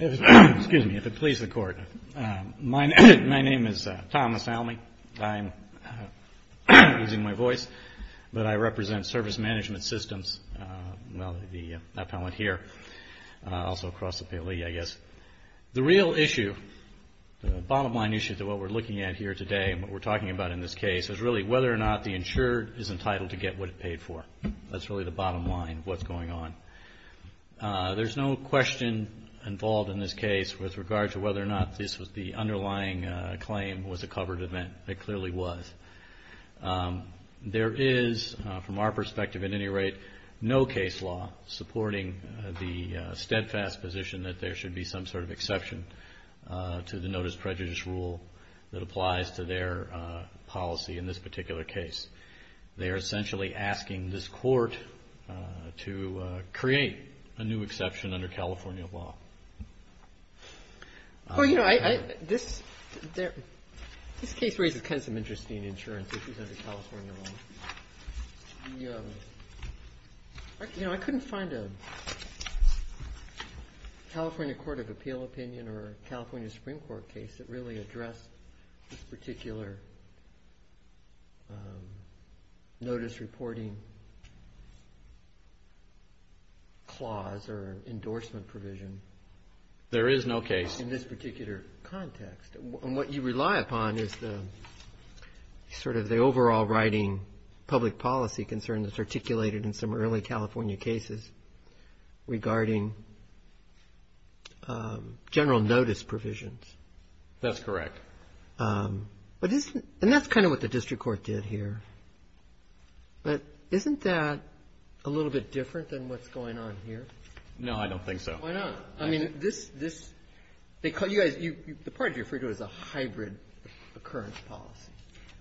Excuse me, if it pleases the Court. My name is Thomas Almey. I'm using my voice, but I represent Service Management Systems, well, the appellant here, also across the pay leave, I guess. The real issue, the bottom line issue to what we're looking at here today and what we're talking about in this case, is really whether or not the insured is entitled to get what it paid for. That's really the bottom line of what's going on. There's no question involved in this case with regard to whether or not this was the underlying claim was a covered event. It clearly was. There is, from our perspective at any rate, no case law supporting the steadfast position that there should be some sort of exception to the Notice of Prejudice Rule that applies to their policy in this particular case. They are essentially asking this Court to create a new exception under California law. Well, you know, this case raises kind of some interesting insurance issues under California law. You know, I couldn't find a California Court of Appeal opinion or a California Supreme Court case that really addressed this particular notice reporting clause or endorsement provision. There is no case. In this particular context. And what you rely upon is sort of the overall writing public policy concern that's general notice provisions. That's correct. And that's kind of what the district court did here. But isn't that a little bit different than what's going on here? No, I don't think so. Why not? I mean, the part you refer to as a hybrid occurrence policy.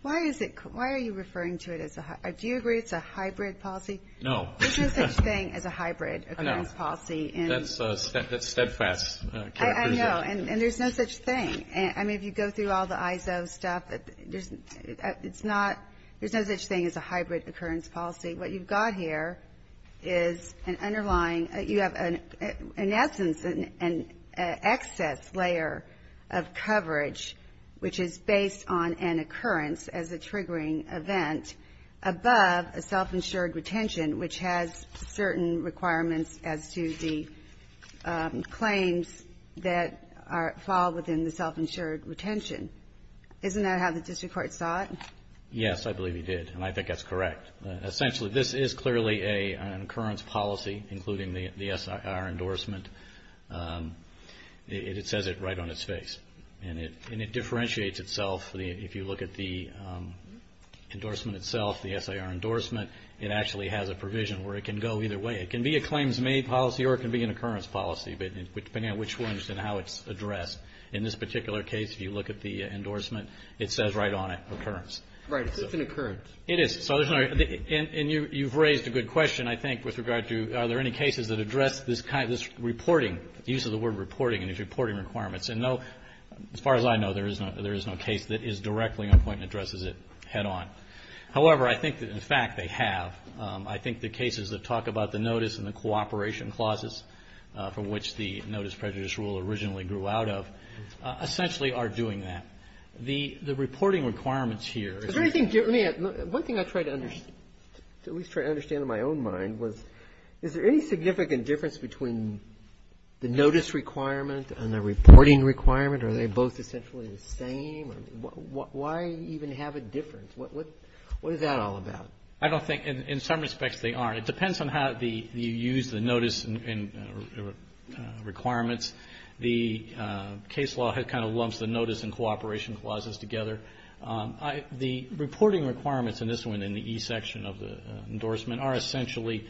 Why are you referring to it as a hybrid policy? No. There's no such thing as a hybrid occurrence policy. I know. That's steadfast. I know. And there's no such thing. I mean, if you go through all the ISO stuff, it's not, there's no such thing as a hybrid occurrence policy. What you've got here is an underlying, you have, in essence, an excess layer of coverage, which is based on an occurrence as a triggering event, above a self-insured retention, which has certain requirements as to the claims that fall within the self-insured retention. Isn't that how the district court saw it? Yes, I believe he did. And I think that's correct. Essentially, this is clearly an occurrence policy, including the SIR endorsement. It says it right on its face. And it differentiates itself. If you look at the endorsement itself, the SIR endorsement, it actually has a provision where it can go either way. It can be a claims-made policy or it can be an occurrence policy, depending on which one and how it's addressed. In this particular case, if you look at the It is. And you've raised a good question, I think, with regard to are there any cases that address this kind of this reporting, the use of the word reporting and its reporting requirements. And no, as far as I know, there is no case that is directly on point and addresses it head-on. However, I think that, in fact, they have. I think the cases that talk about the notice and the cooperation clauses from which the notice to at least try to understand in my own mind was, is there any significant difference between the notice requirement and the reporting requirement? Are they both essentially the same? Why even have a difference? What is that all about? I don't think in some respects they are. It depends on how you use the notice and requirements. The case law kind of lumps the notice and cooperation clauses together. The reporting requirements in this one, in the E section of the endorsement, are essentially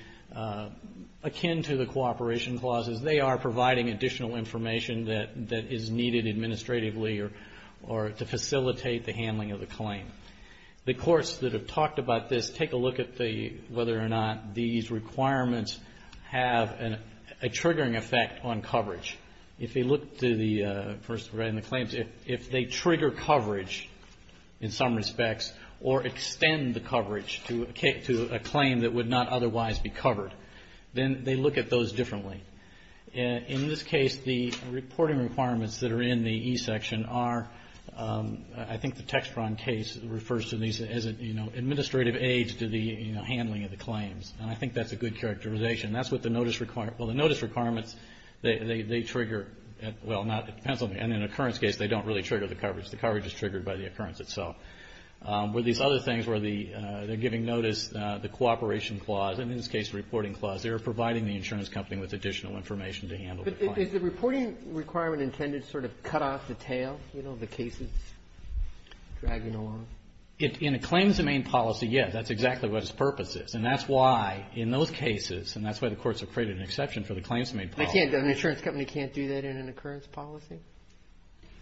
akin to the cooperation clauses. They are providing additional information that is needed administratively or to facilitate the handling of the claim. The courts that have talked about this, take a look at whether or not these requirements have a triggering effect on coverage. If you look to the, first of all, in the claims, if they trigger coverage in some respects or extend the coverage to a claim that would not otherwise be covered, then they look at those differently. In this case, the reporting requirements that are in the E section are, I think the Textron case refers to these as administrative aids to the handling of the claims. And I think that's a good characterization. That's what the notice requirements, well, the notice requirements, they trigger, well, not, it depends on, in an occurrence case, they don't really trigger the coverage. The coverage is triggered by the occurrence itself. With these other things where they're giving notice, the cooperation clause, and in this case, the reporting clause, they're providing the insurance company with additional information to handle the claim. Is the reporting requirement intended to sort of cut off the tail, you know, the cases dragging along? In a claims domain policy, yes. That's exactly what its purpose is. And that's why, in those cases, and that's why the courts have created an exception for the claims domain policy. They can't, an insurance company can't do that in an occurrence policy?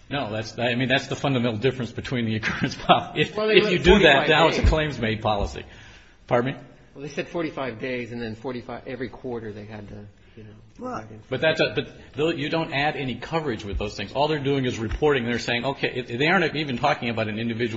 No, that's, I mean, that's the fundamental difference between the occurrence policy. If you do that, now it's a claims made policy. Well, they said 45 days, and then 45, every quarter they had to, you know. But you don't add any coverage with those things. All they're doing is reporting. They're saying, okay, they aren't even talking about an occurrence.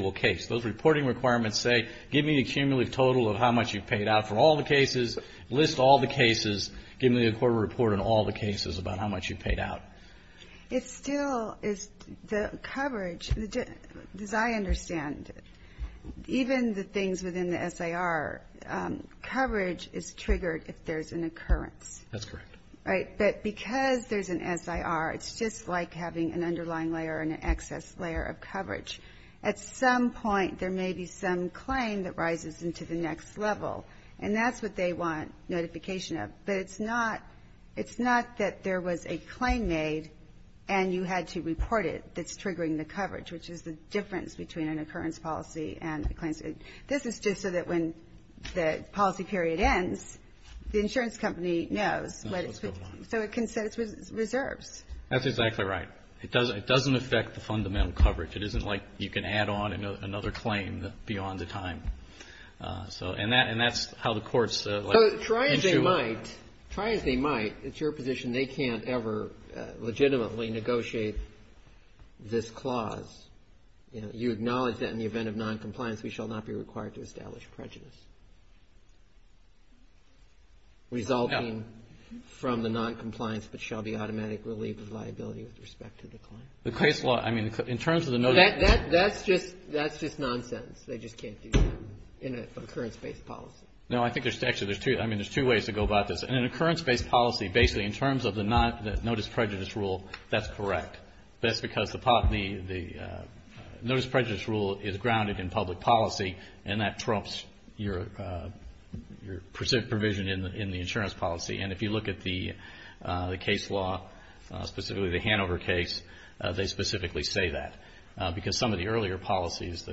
That's correct. Right? But because there's an SIR, it's just like having an underlying layer or an excess layer of coverage. At some point, there may be some claim that rises into the next level, and that's what they want notification of. But it's not, it's not that there was a claim made and you had to report it that's triggering the coverage, which is the difference between an occurrence policy and a claims. This is just so that when the policy period ends, the insurance company knows. So it consents with reserves. That's exactly right. It doesn't affect the fundamental coverage. It isn't like you can add on another claim beyond the time. And that's how the courts deal with this issue. Try as they might, it's your position, they can't ever legitimately negotiate this clause. You acknowledge that in the event of noncompliance, we shall not be required to establish prejudice. Resulting from the noncompliance but shall be automatic relief of liability with respect to the claim. The case law, I mean, in terms of the notice. That's just nonsense. They just can't do that in an occurrence-based policy. No, I think there's actually, I mean, there's two ways to go about this. In an occurrence-based policy, basically, in terms of the notice prejudice rule, that's correct. That's because the notice prejudice rule is grounded in public policy, and that trumps your provision in the insurance policy. And if you look at the case law, specifically the Hanover case, they specifically say that. Because some of the earlier policies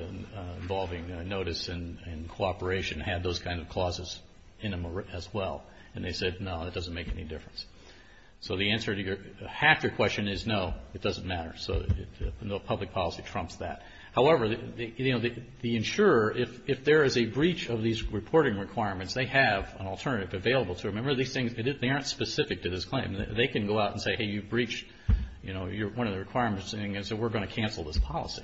involving notice and cooperation had those kinds of clauses in them as well. And they said, no, that doesn't make any difference. So the answer to half your question is no, it doesn't matter. So no public policy trumps that. However, the insurer, if there is a breach of these reporting requirements, they have an alternative available to them. Remember these things, they aren't specific to this claim. They can go out and say, hey, you breached, you know, one of the requirements, and so we're going to cancel this policy.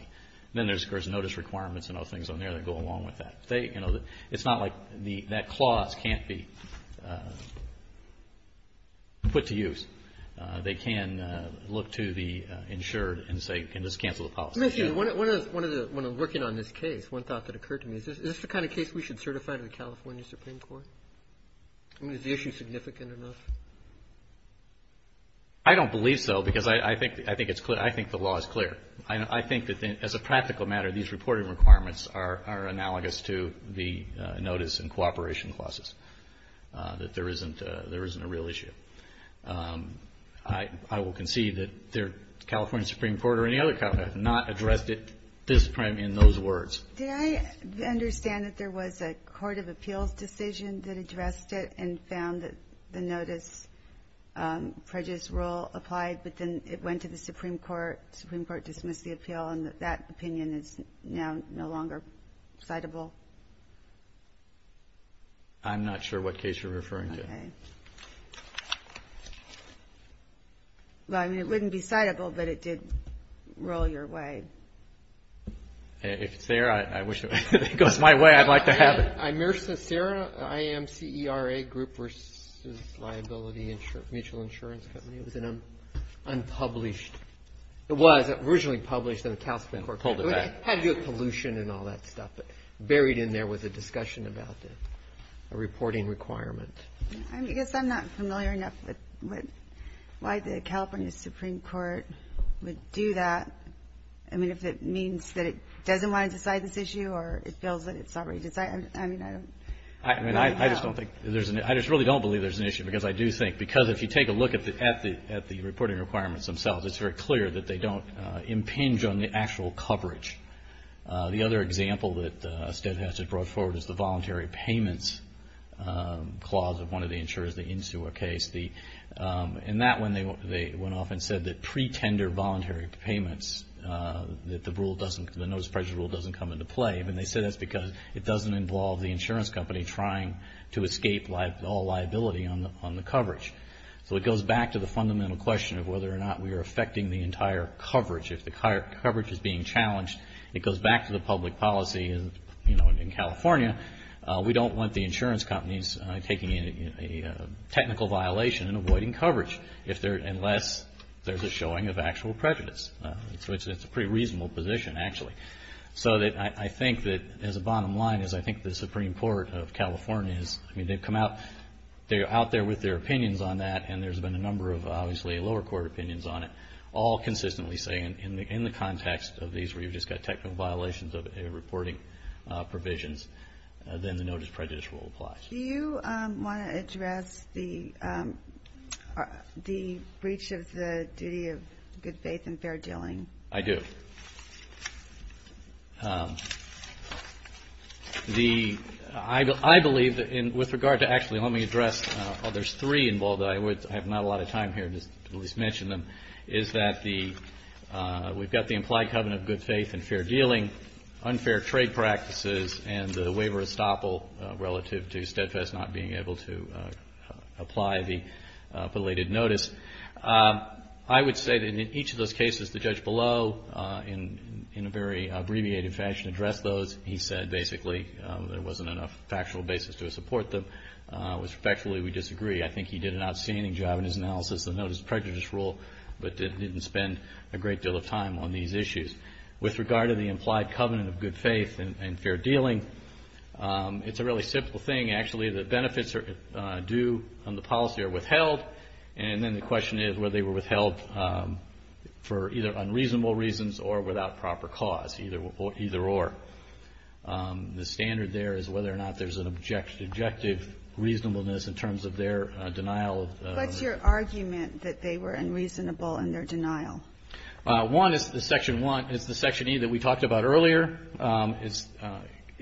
Then there's notice requirements and other things on there that go along with that. It's not like that clause can't be put to use. They can look to the insured and say, you can just cancel the policy. One of the, when I'm working on this case, one thought that occurred to me is, is this the kind of case we should certify to the California Supreme Court? I mean, is the issue significant enough? I don't believe so, because I think it's clear. I think the law is clear. I think that as a practical matter, these reporting requirements are analogous to the notice and cooperation clauses, that there isn't a real issue. I will concede that the California Supreme Court or any other government has not addressed it this prime in those words. Did I understand that there was a court of appeals decision that addressed it and found that the notice prejudice rule applied, but then it went to the Supreme Court? Supreme Court dismissed the appeal, and that opinion is now no longer citable? I'm not sure what case you're referring to. Well, I mean, it wouldn't be citable, but it did roll your way. If it's there, I wish it goes my way. I'd like to have it. Sarah, I am CERA, Group Versus Liability Mutual Insurance Company. It was an unpublished, it was originally published in the California Supreme Court. It had to do with pollution and all that stuff, but buried in there was a discussion about the reporting requirement. I guess I'm not familiar enough with why the California Supreme Court would do that. I mean, if it means that it doesn't want to decide this issue, or it feels that it's already decided. I just really don't believe there's an issue, because I do think, because if you take a look at the reporting requirements themselves, it's very clear that they don't impinge on the actual coverage. The other example that Steadhast has brought forward is the voluntary payments clause of one of the insurers, the Insua case. In that one, they went off and said that pre-tender voluntary payments, that the rule doesn't, the notice of prejudice rule doesn't come into play. And they said that's because it doesn't involve the insurance company trying to escape all liability on the coverage. So it goes back to the fundamental question of whether or not we are affecting the entire coverage. If the coverage is being challenged, it goes back to the public policy in California. We don't want the insurance companies taking a technical violation and avoiding coverage unless there's a showing of actual prejudice. So it's a pretty reasonable position, actually. So I think that, as a bottom line, is I think the Supreme Court of California is, I mean, they've come out, they're out there with their opinions on that, and there's been a number of, obviously, lower court opinions on it. All consistently saying, in the context of these where you've just got technical violations of reporting provisions. Then the notice of prejudice rule applies. Do you want to address the breach of the duty of good faith and fair dealing? I do. I believe, with regard to actually, let me address, there's three involved that I would, I have not a lot of time here to at least mention them, is that the, we've got the implied covenant of good faith and fair dealing, unfair trade practices, and the waiver of services. I would say that in each of those cases, the judge below, in a very abbreviated fashion, addressed those. He said, basically, there wasn't enough factual basis to support them, which, factually, we disagree. I think he did an outstanding job in his analysis of the notice of prejudice rule, but didn't spend a great deal of time on these issues. With regard to the implied covenant of good faith and fair dealing, it's a really simple thing, actually. The benefits are due and the policy are withheld, and then the question is whether they were withheld for either unreasonable reasons or without proper cause, either or. The standard there is whether or not there's an objective reasonableness in terms of their denial. What's your argument that they were unreasonable in their denial? One is the Section 1, it's the Section E that we talked about earlier.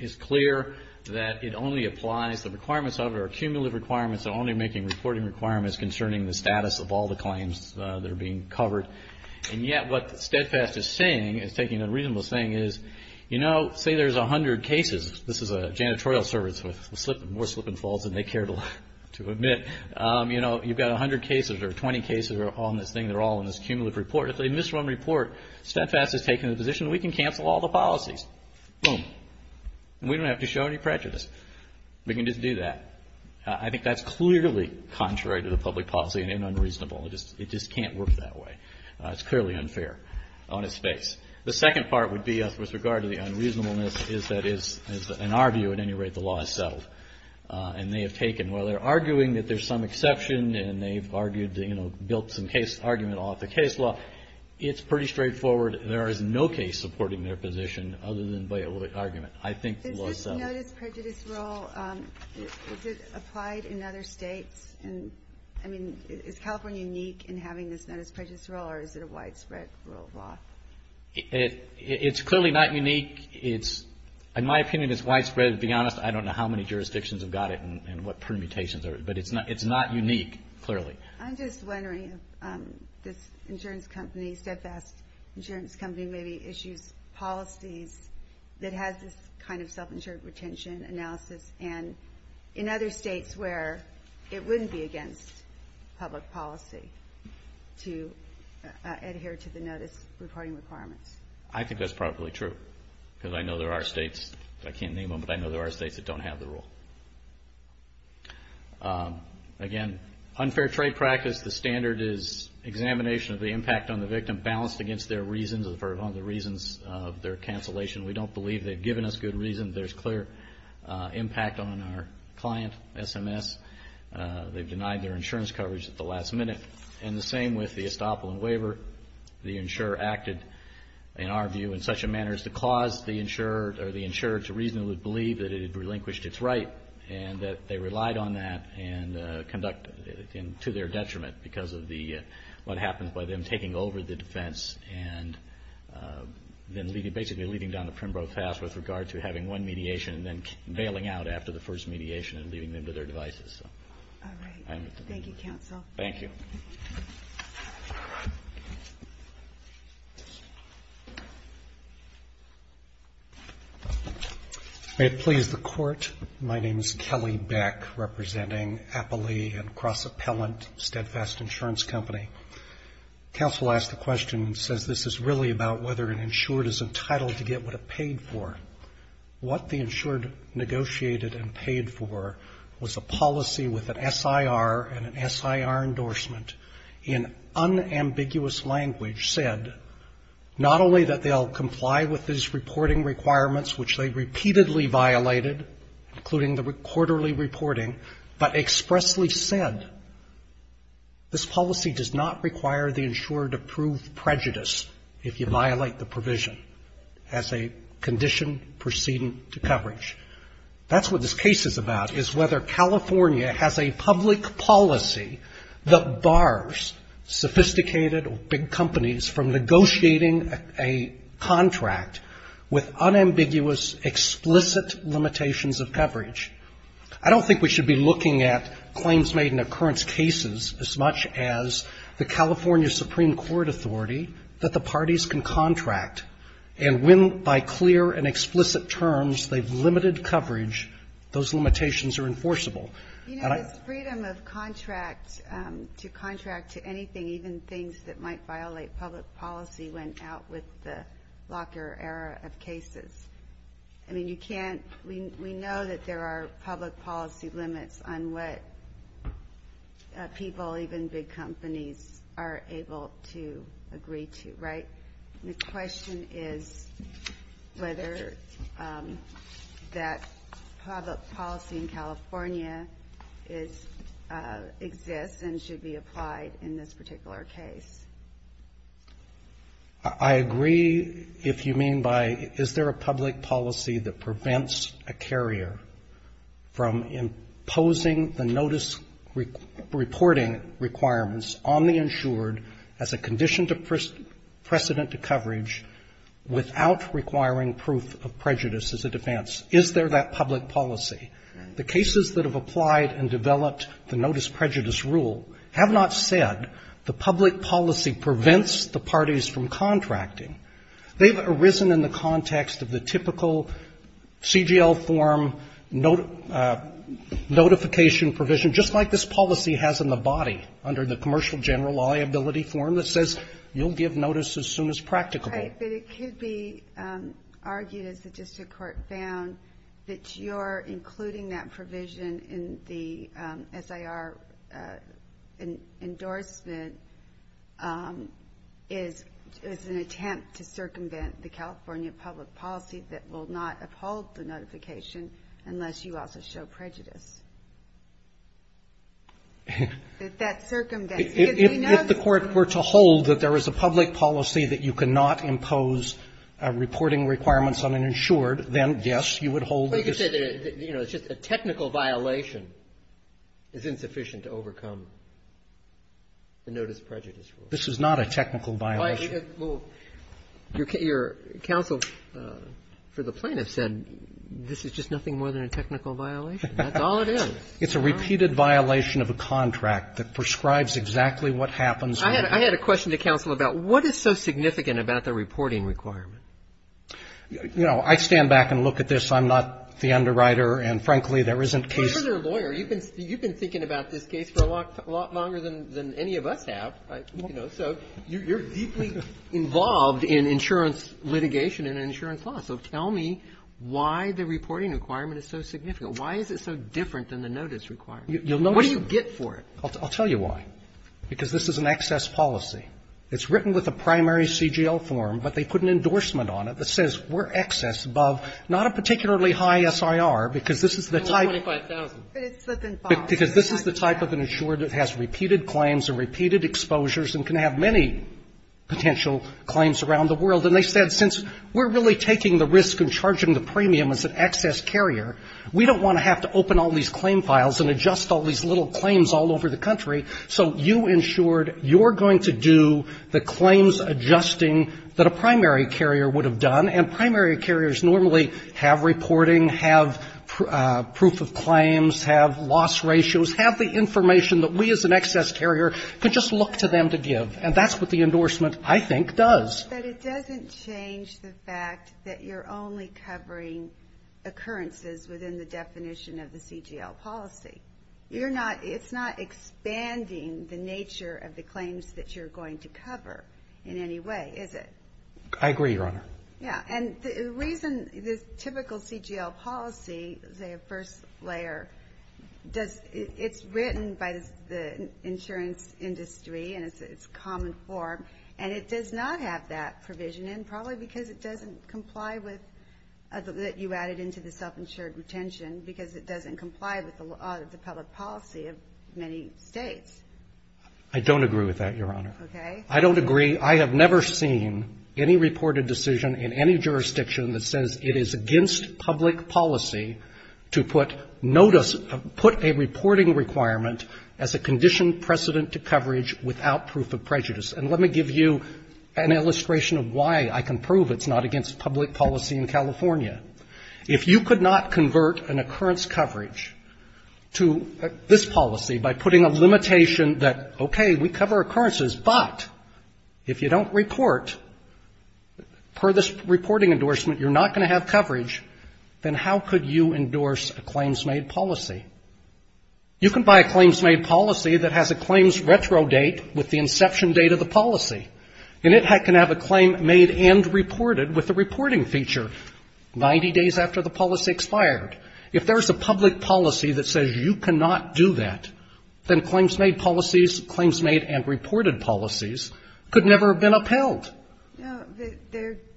It's clear that it only applies, the requirements of it are cumulative requirements, they're only making reporting requirements concerning the status of all the claims that are being covered. And yet, what Steadfast is saying, is taking a reasonable saying, is, you know, say there's 100 cases. This is a janitorial service with more slip and falls than they care to admit. You know, you've got 100 cases or 20 cases on this thing that are all in this cumulative report. If they misrun the report, Steadfast has taken the position, we can cancel all the policies. Boom. And we don't have to show any prejudice. We can just do that. I think that's clearly contrary to the public policy and unreasonable. It just can't work that way. It's clearly unfair on its face. The second part would be, with regard to the unreasonableness, is that in our view, at any rate, the law is settled. And they have taken, while they're arguing that there's some exception, and they've argued, you know, built some case argument off the case law, it's pretty straightforward. There is no case supporting their position, other than by argument. I think the law is settled. Is this notice prejudice rule, is it applied in other states? I mean, is California unique in having this notice prejudice rule, or is it a widespread rule of law? It's clearly not unique. In my opinion, it's widespread. To be honest, I don't know how many jurisdictions have got it and what permutations are, but it's not unique, clearly. I'm just wondering if this insurance company, Steadfast Insurance Company, maybe issues policies that has this kind of self-insured retention analysis, and in other states where it wouldn't be against public policy to adhere to the notice reporting requirements. I think that's probably true, because I know there are states, I can't name them, but I know there are states that don't have the rule. Again, unfair trade practice, the standard is examination of the impact on the victim, balanced against their reasons, or the reasons of their cancellation. We don't believe they've given us good reasons. There's clear impact on our client, SMS. They've denied their insurance coverage at the last minute. And the same with the Estoppolan waiver. The insurer acted, in our view, in such a manner as to cause the insurer to reasonably believe that it had relinquished its right, and that they relied on that to their detriment, because of what happens by them taking over the defense and then basically leading down the Primro pass with regard to having one mediation and then bailing out after the first mediation and leaving them to their devices. Kelly Beck, representing Appley and Cross Appellant, Steadfast Insurance Company. Counsel asked the question, says this is really about whether an insured is entitled to get what it paid for. What the insured negotiated and paid for was a policy with an SIR and an SIR endorsement in unambiguous language, said not only that they'll comply with these reporting requirements, which they repeatedly violated, including the quarterly reporting, but expressly said this policy does not require the insurer to prove prejudice if you violate the provision, as a condition of proceeding to coverage. That's what this case is about, is whether California has a public policy that bars sophisticated or big companies from negotiating a contract with unambiguous, explicit limitations of coverage. I don't think we should be looking at claims made in occurrence cases as much as the California Supreme Court authority that the insurer is entitled to. You know, this freedom of contract, to contract to anything, even things that might violate public policy, went out with the locker era of cases. I mean, you can't, we know that there are public policy limits on what people, even big companies, are able to agree to, right? The question is whether that public policy in California is, exists and should be applied in this particular case. I agree, if you mean by, is there a public policy that prevents a carrier from imposing the notice reporting requirements on the insurer to prove precedent to coverage without requiring proof of prejudice as a defense? Is there that public policy? The cases that have applied and developed the notice prejudice rule have not said the public policy prevents the parties from contracting. They've arisen in the context of the typical CGL form notification provision, just like this policy has in the body, under the Commercial General Liability form that says you'll give notice as soon as practicable. Right, but it could be argued, as the district court found, that you're including that provision in the SIR endorsement as an attempt to circumvent the California public policy that will not uphold the notification unless you also show prejudice. If the court were to hold that there is a public policy that you cannot impose reporting requirements on an insured, then, yes, you would hold that this is a technical violation is insufficient to overcome the notice prejudice rule. This is not a technical violation. Well, your counsel for the plaintiff said this is just nothing more than a technical violation. That's all it is. It's a repeated violation of a contract that prescribes exactly what happens. I had a question to counsel about what is so significant about the reporting requirement? You know, I stand back and look at this. I'm not the underwriter, and, frankly, there isn't case. You're their lawyer. You've been thinking about this case for a lot longer than any of us have. So you're deeply involved in insurance litigation and insurance law. So tell me why the reporting requirement is so significant. Why is it so different than the notice requirement? What do you get for it? I'll tell you why. Because this is an excess policy. It's written with a primary CGL form, but they put an endorsement on it that says we're excess above not a particularly high SIR, because this is the type of an insured that has repeated claims and repeated exposures and can have many potential claims around the world. And they said since we're really taking the risk and charging the premium as an excess carrier, we don't want to have to open all these claim files and adjust all these little claims all over the country. So you insured, you're going to do the claims adjusting that a primary carrier would have done. And primary carriers normally have reporting, have proof of claims, have loss ratios, have the information that we as an excess carrier could just look to them to give. And that's what the endorsement, I think, does. But it doesn't change the fact that you're only covering occurrences within the definition of the CGL policy. You're not, it's not expanding the nature of the claims that you're going to cover in any way, is it? I agree, Your Honor. Yeah. And the reason this typical CGL policy, say a first layer, does, it's written by the insurance industry and it's a common form. And it does not have that provision in probably because it doesn't comply with, that you added into the self-insured retention, because it doesn't comply with the law, the public policy of many states. I don't agree with that, Your Honor. Okay. I don't agree. I have never seen any reported decision in any jurisdiction that says it is against public policy to put notice, put a reporting requirement as a conditioned precedent to coverage without proof of prejudice. And let me give you an illustration of why I can prove it's not against public policy in California. If you could not convert an occurrence coverage to this policy by putting a limitation that, okay, we cover occurrences, but if you don't report, per this reporting endorsement, you're not going to have coverage, then how could you endorse a claims-made policy? You can buy a claims-made policy that has a claims retro date with the inception date of the policy. And it can have a claim made and reported with the reporting feature, 90 days after the policy expired. If there's a public policy that says you cannot do that, then claims-made policies, claims-made and reported policies could never have been upheld. No,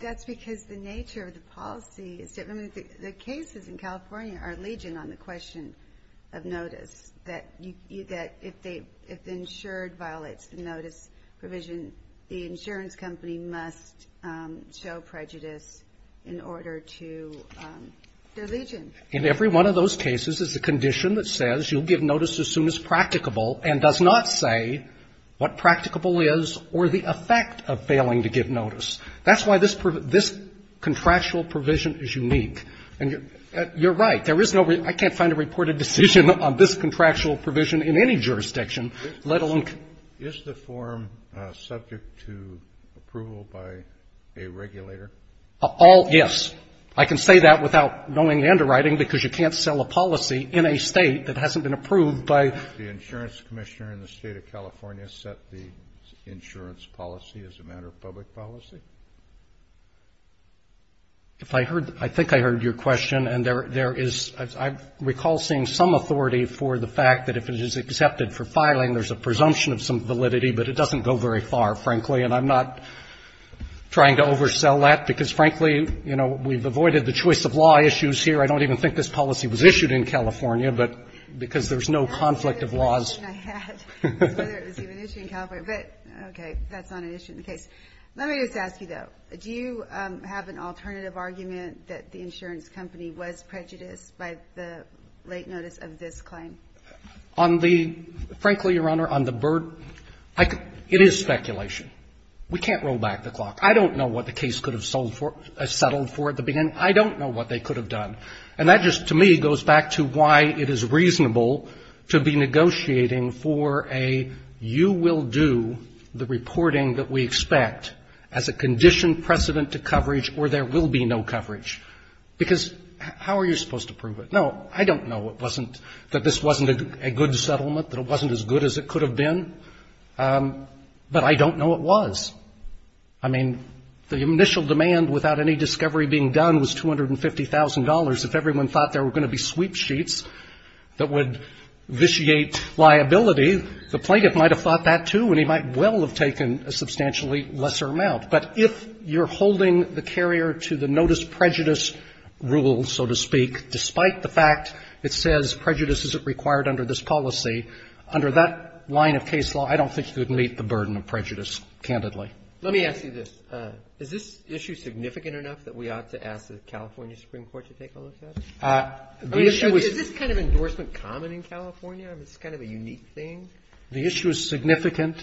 that's because the nature of the policy is different. The cases in California are legion on the question of notice, that if the insured violates the notice provision, the insurance company must show prejudice in order to do legion. In every one of those cases is a condition that says you'll give notice as soon as practicable and does not say what practicable is or the effect of failing to give notice. That's why this contractual provision is unique. And you're right. There is no reason I can't find a reported decision on this contractual provision in any jurisdiction, let alone... Is the form subject to approval by a regulator? Yes. I can say that without knowing the underwriting, because you can't sell a policy in a State that hasn't been approved by... The insurance commissioner in the State of California set the insurance policy as a matter of public policy? I think I heard your question. And there is, I recall seeing some authority for the fact that if it is accepted for filing, there's a presumption of some validity, but it doesn't go very far, frankly. And I'm not trying to oversell that, because frankly, you know, we've avoided the choice of law issues here. I don't even think this policy was issued in California, but because there's no conflict of laws... That's the only question I had, was whether it was even issued in California. But, okay, that's not an issue in the case. Let me just ask you, though. Do you have an alternative argument that the insurance company was prejudiced by the late notice of this claim? On the... Frankly, Your Honor, on the burden... It is speculation. We can't roll back the clock. I don't know what the case could have settled for at the beginning. I don't know what they could have done. And that just, to me, goes back to why it is reasonable to be negotiating for a You will do the reporting that we expect as a conditioned precedent to coverage, or there will be no coverage. Because how are you supposed to prove it? No, I don't know it wasn't, that this wasn't a good settlement, that it wasn't as good as it could have been. But I don't know it was. I mean, the initial demand, without any discovery being done, was $250,000. If everyone thought there were going to be sweepsheets that would vitiate liability, the plaintiff might have thought that, too, and he might well have taken a substantially lesser amount. But if you're holding the carrier to the notice prejudice rule, so to speak, despite the fact it says prejudice isn't required under this policy, under that line of case law, I don't think you would meet the burden of prejudice, candidly. Let me ask you this. Is this issue significant enough that we ought to ask the California Supreme Court to take a look at it? The issue is... I mean, is this kind of endorsement common in California? I mean, is this kind of a unique thing? The issue is significant.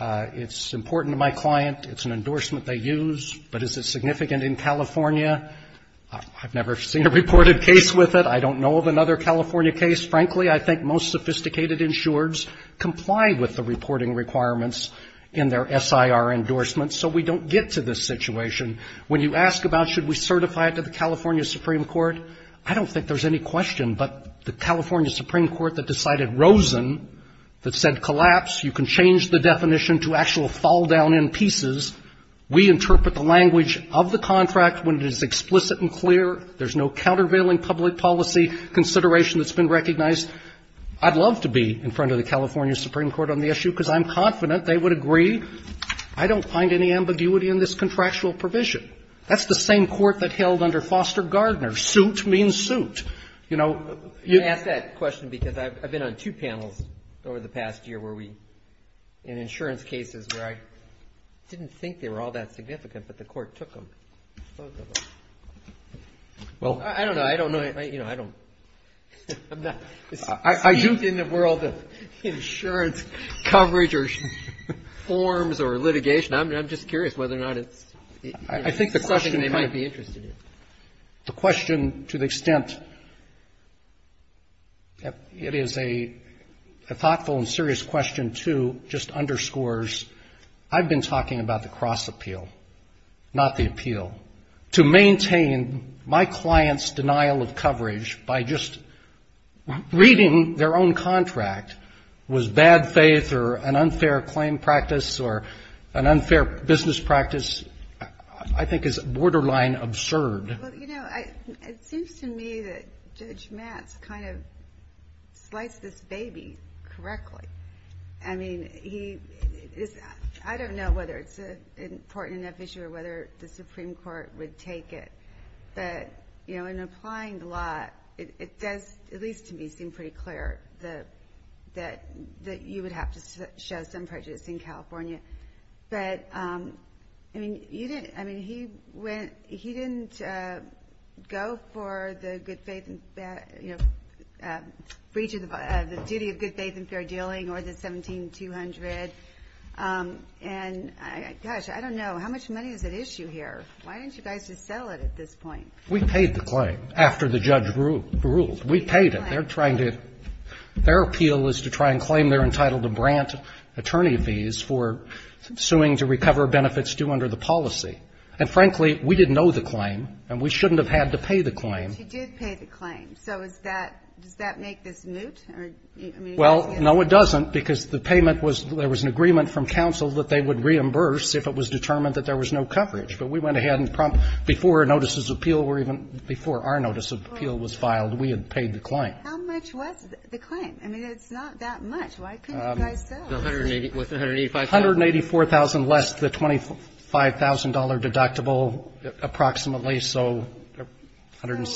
It's important to my client. It's an endorsement they use. But is it significant in California? I've never seen a reported case with it. I don't know of another California case. Frankly, I think most sophisticated insurers comply with the reporting requirements in their SIR endorsements. So we don't get to this situation. When you ask about should we certify it to the California Supreme Court, I don't think there's any question but the California Supreme Court that decided Rosen, that said collapse, you can change the definition to actual fall down in pieces. We interpret the language of the contract when it is explicit and clear. There's no countervailing public policy consideration that's been recognized. I'd love to be in front of the California Supreme Court on the issue because I'm confident they would agree. I don't find any ambiguity in this contractual provision. That's the same court that held under Foster Gardner. Suit means suit. You know? I ask that question because I've been on two panels over the past year where we, in insurance cases where I didn't think they were all that significant but the court took them. Well, I don't know. I don't know. You know, I don't speak in the world of insurance coverage or forms or litigation. I'm just curious whether or not it's. I think the question. Something they might be interested in. The question, to the extent it is a thoughtful and serious question, too, just underscores, I've been talking about the cross appeal, not the appeal. To maintain my client's denial of coverage by just reading their own contract was bad faith or an unfair claim practice or an unfair business practice I think is borderline absurd. Well, you know, it seems to me that Judge Matz kind of sliced this baby correctly. I mean, he is. I don't know whether it's an important enough issue or whether the Supreme Court would take it. But, you know, in applying the law, it does, at least to me, seem pretty clear that you would have to show some prejudice in California. But, I mean, you didn't. I mean, he went. He didn't go for the duty of good faith and fair dealing or the 17200. And, gosh, I don't know. How much money is at issue here? Why didn't you guys just settle it at this point? We paid the claim after the judge ruled. We paid it. Their appeal is to try and claim they're entitled to grant attorney fees for suing to recover benefits due under the policy. And, frankly, we didn't know the claim, and we shouldn't have had to pay the claim. But you did pay the claim. So does that make this moot? Well, no, it doesn't, because the payment was there was an agreement from counsel that they would reimburse if it was determined that there was no coverage. But we went ahead and before a notice of appeal or even before our notice of appeal was filed, we had paid the claim. How much was the claim? I mean, it's not that much. Why couldn't you guys tell? It was $184,000. $184,000 less the $25,000 deductible, approximately, so $160,000.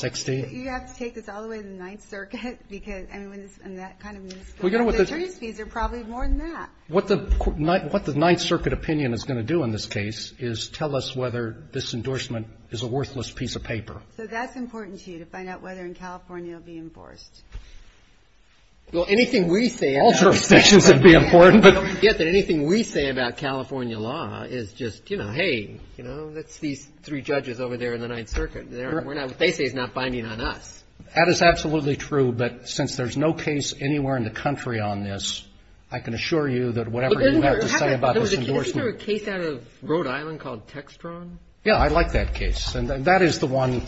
So you have to take this all the way to the Ninth Circuit? I mean, that kind of means the attorney's fees are probably more than that. What the Ninth Circuit opinion is going to do in this case is tell us whether this endorsement is a worthless piece of paper. So that's important to you, to find out whether in California it will be enforced? Well, anything we say about California law is just, you know, hey, you know, that's these three judges over there in the Ninth Circuit. What they say is not binding on us. That is absolutely true. But since there's no case anywhere in the country on this, I can assure you that whatever you have to say about this endorsement. Isn't there a case out of Rhode Island called Textron? Yeah. I like that case. And that is the one.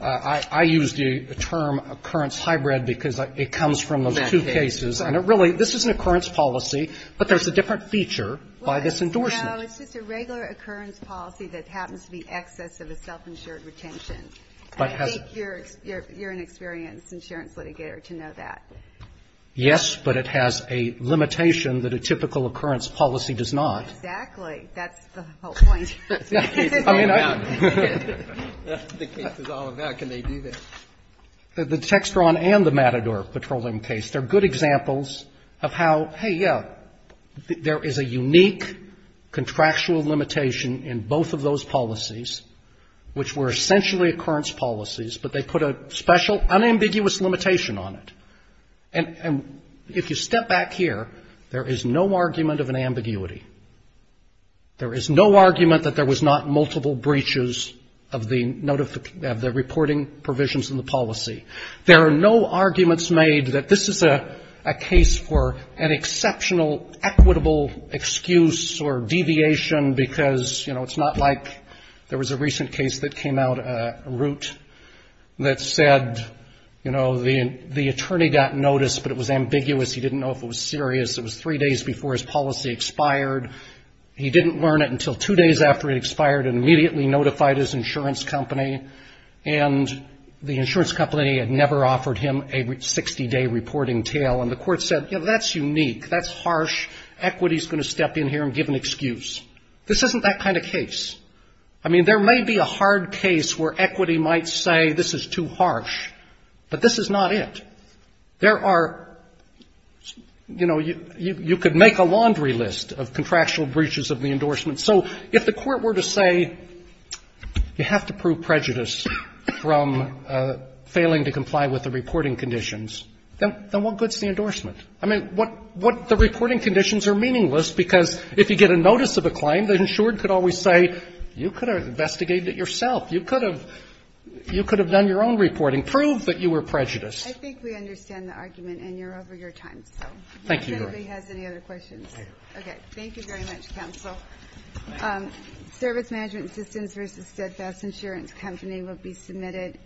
I use the term occurrence hybrid because it comes from those two cases. And really, this is an occurrence policy, but there's a different feature by this endorsement. No, it's just a regular occurrence policy that happens to be excess of a self-insured retention. I think you're an experienced insurance litigator to know that. Yes, but it has a limitation that a typical occurrence policy does not. Exactly. That's the whole point. That's what the case is all about. That's what the case is all about. Can they do that? The Textron and the Matador petroleum case, they're good examples of how, hey, yeah, there is a unique contractual limitation in both of those policies, which were essentially occurrence policies, but they put a special unambiguous limitation on it. And if you step back here, there is no argument of an ambiguity. There is no argument that there was not multiple breaches of the reporting provisions in the policy. There are no arguments made that this is a case for an exceptional equitable excuse or deviation, because, you know, it's not like there was a recent case that came out, Root, that said, you know, the attorney got notice, but it was ambiguous. He didn't know if it was serious. It was three days before his policy expired. He didn't learn it until two days after it expired and immediately notified his insurance company. And the insurance company had never offered him a 60-day reporting tail, and the court said, you know, that's unique. That's harsh. Equity is going to step in here and give an excuse. This isn't that kind of case. I mean, there may be a hard case where equity might say this is too harsh, but this is not it. There are, you know, you could make a laundry list of contractual breaches of the endorsement. So if the court were to say you have to prove prejudice from failing to comply with the reporting conditions, then what good is the endorsement? I mean, what the reporting conditions are meaningless, because if you get a notice of a claim, the insured could always say, you could have investigated it yourself. You could have done your own reporting. Prove that you were prejudiced. I think we understand the argument, and you're over your time. Thank you, Your Honor. If anybody has any other questions. Okay. Thank you very much, counsel. Thank you. Service Management Systems v. Steadfast Insurance Company will be submitted.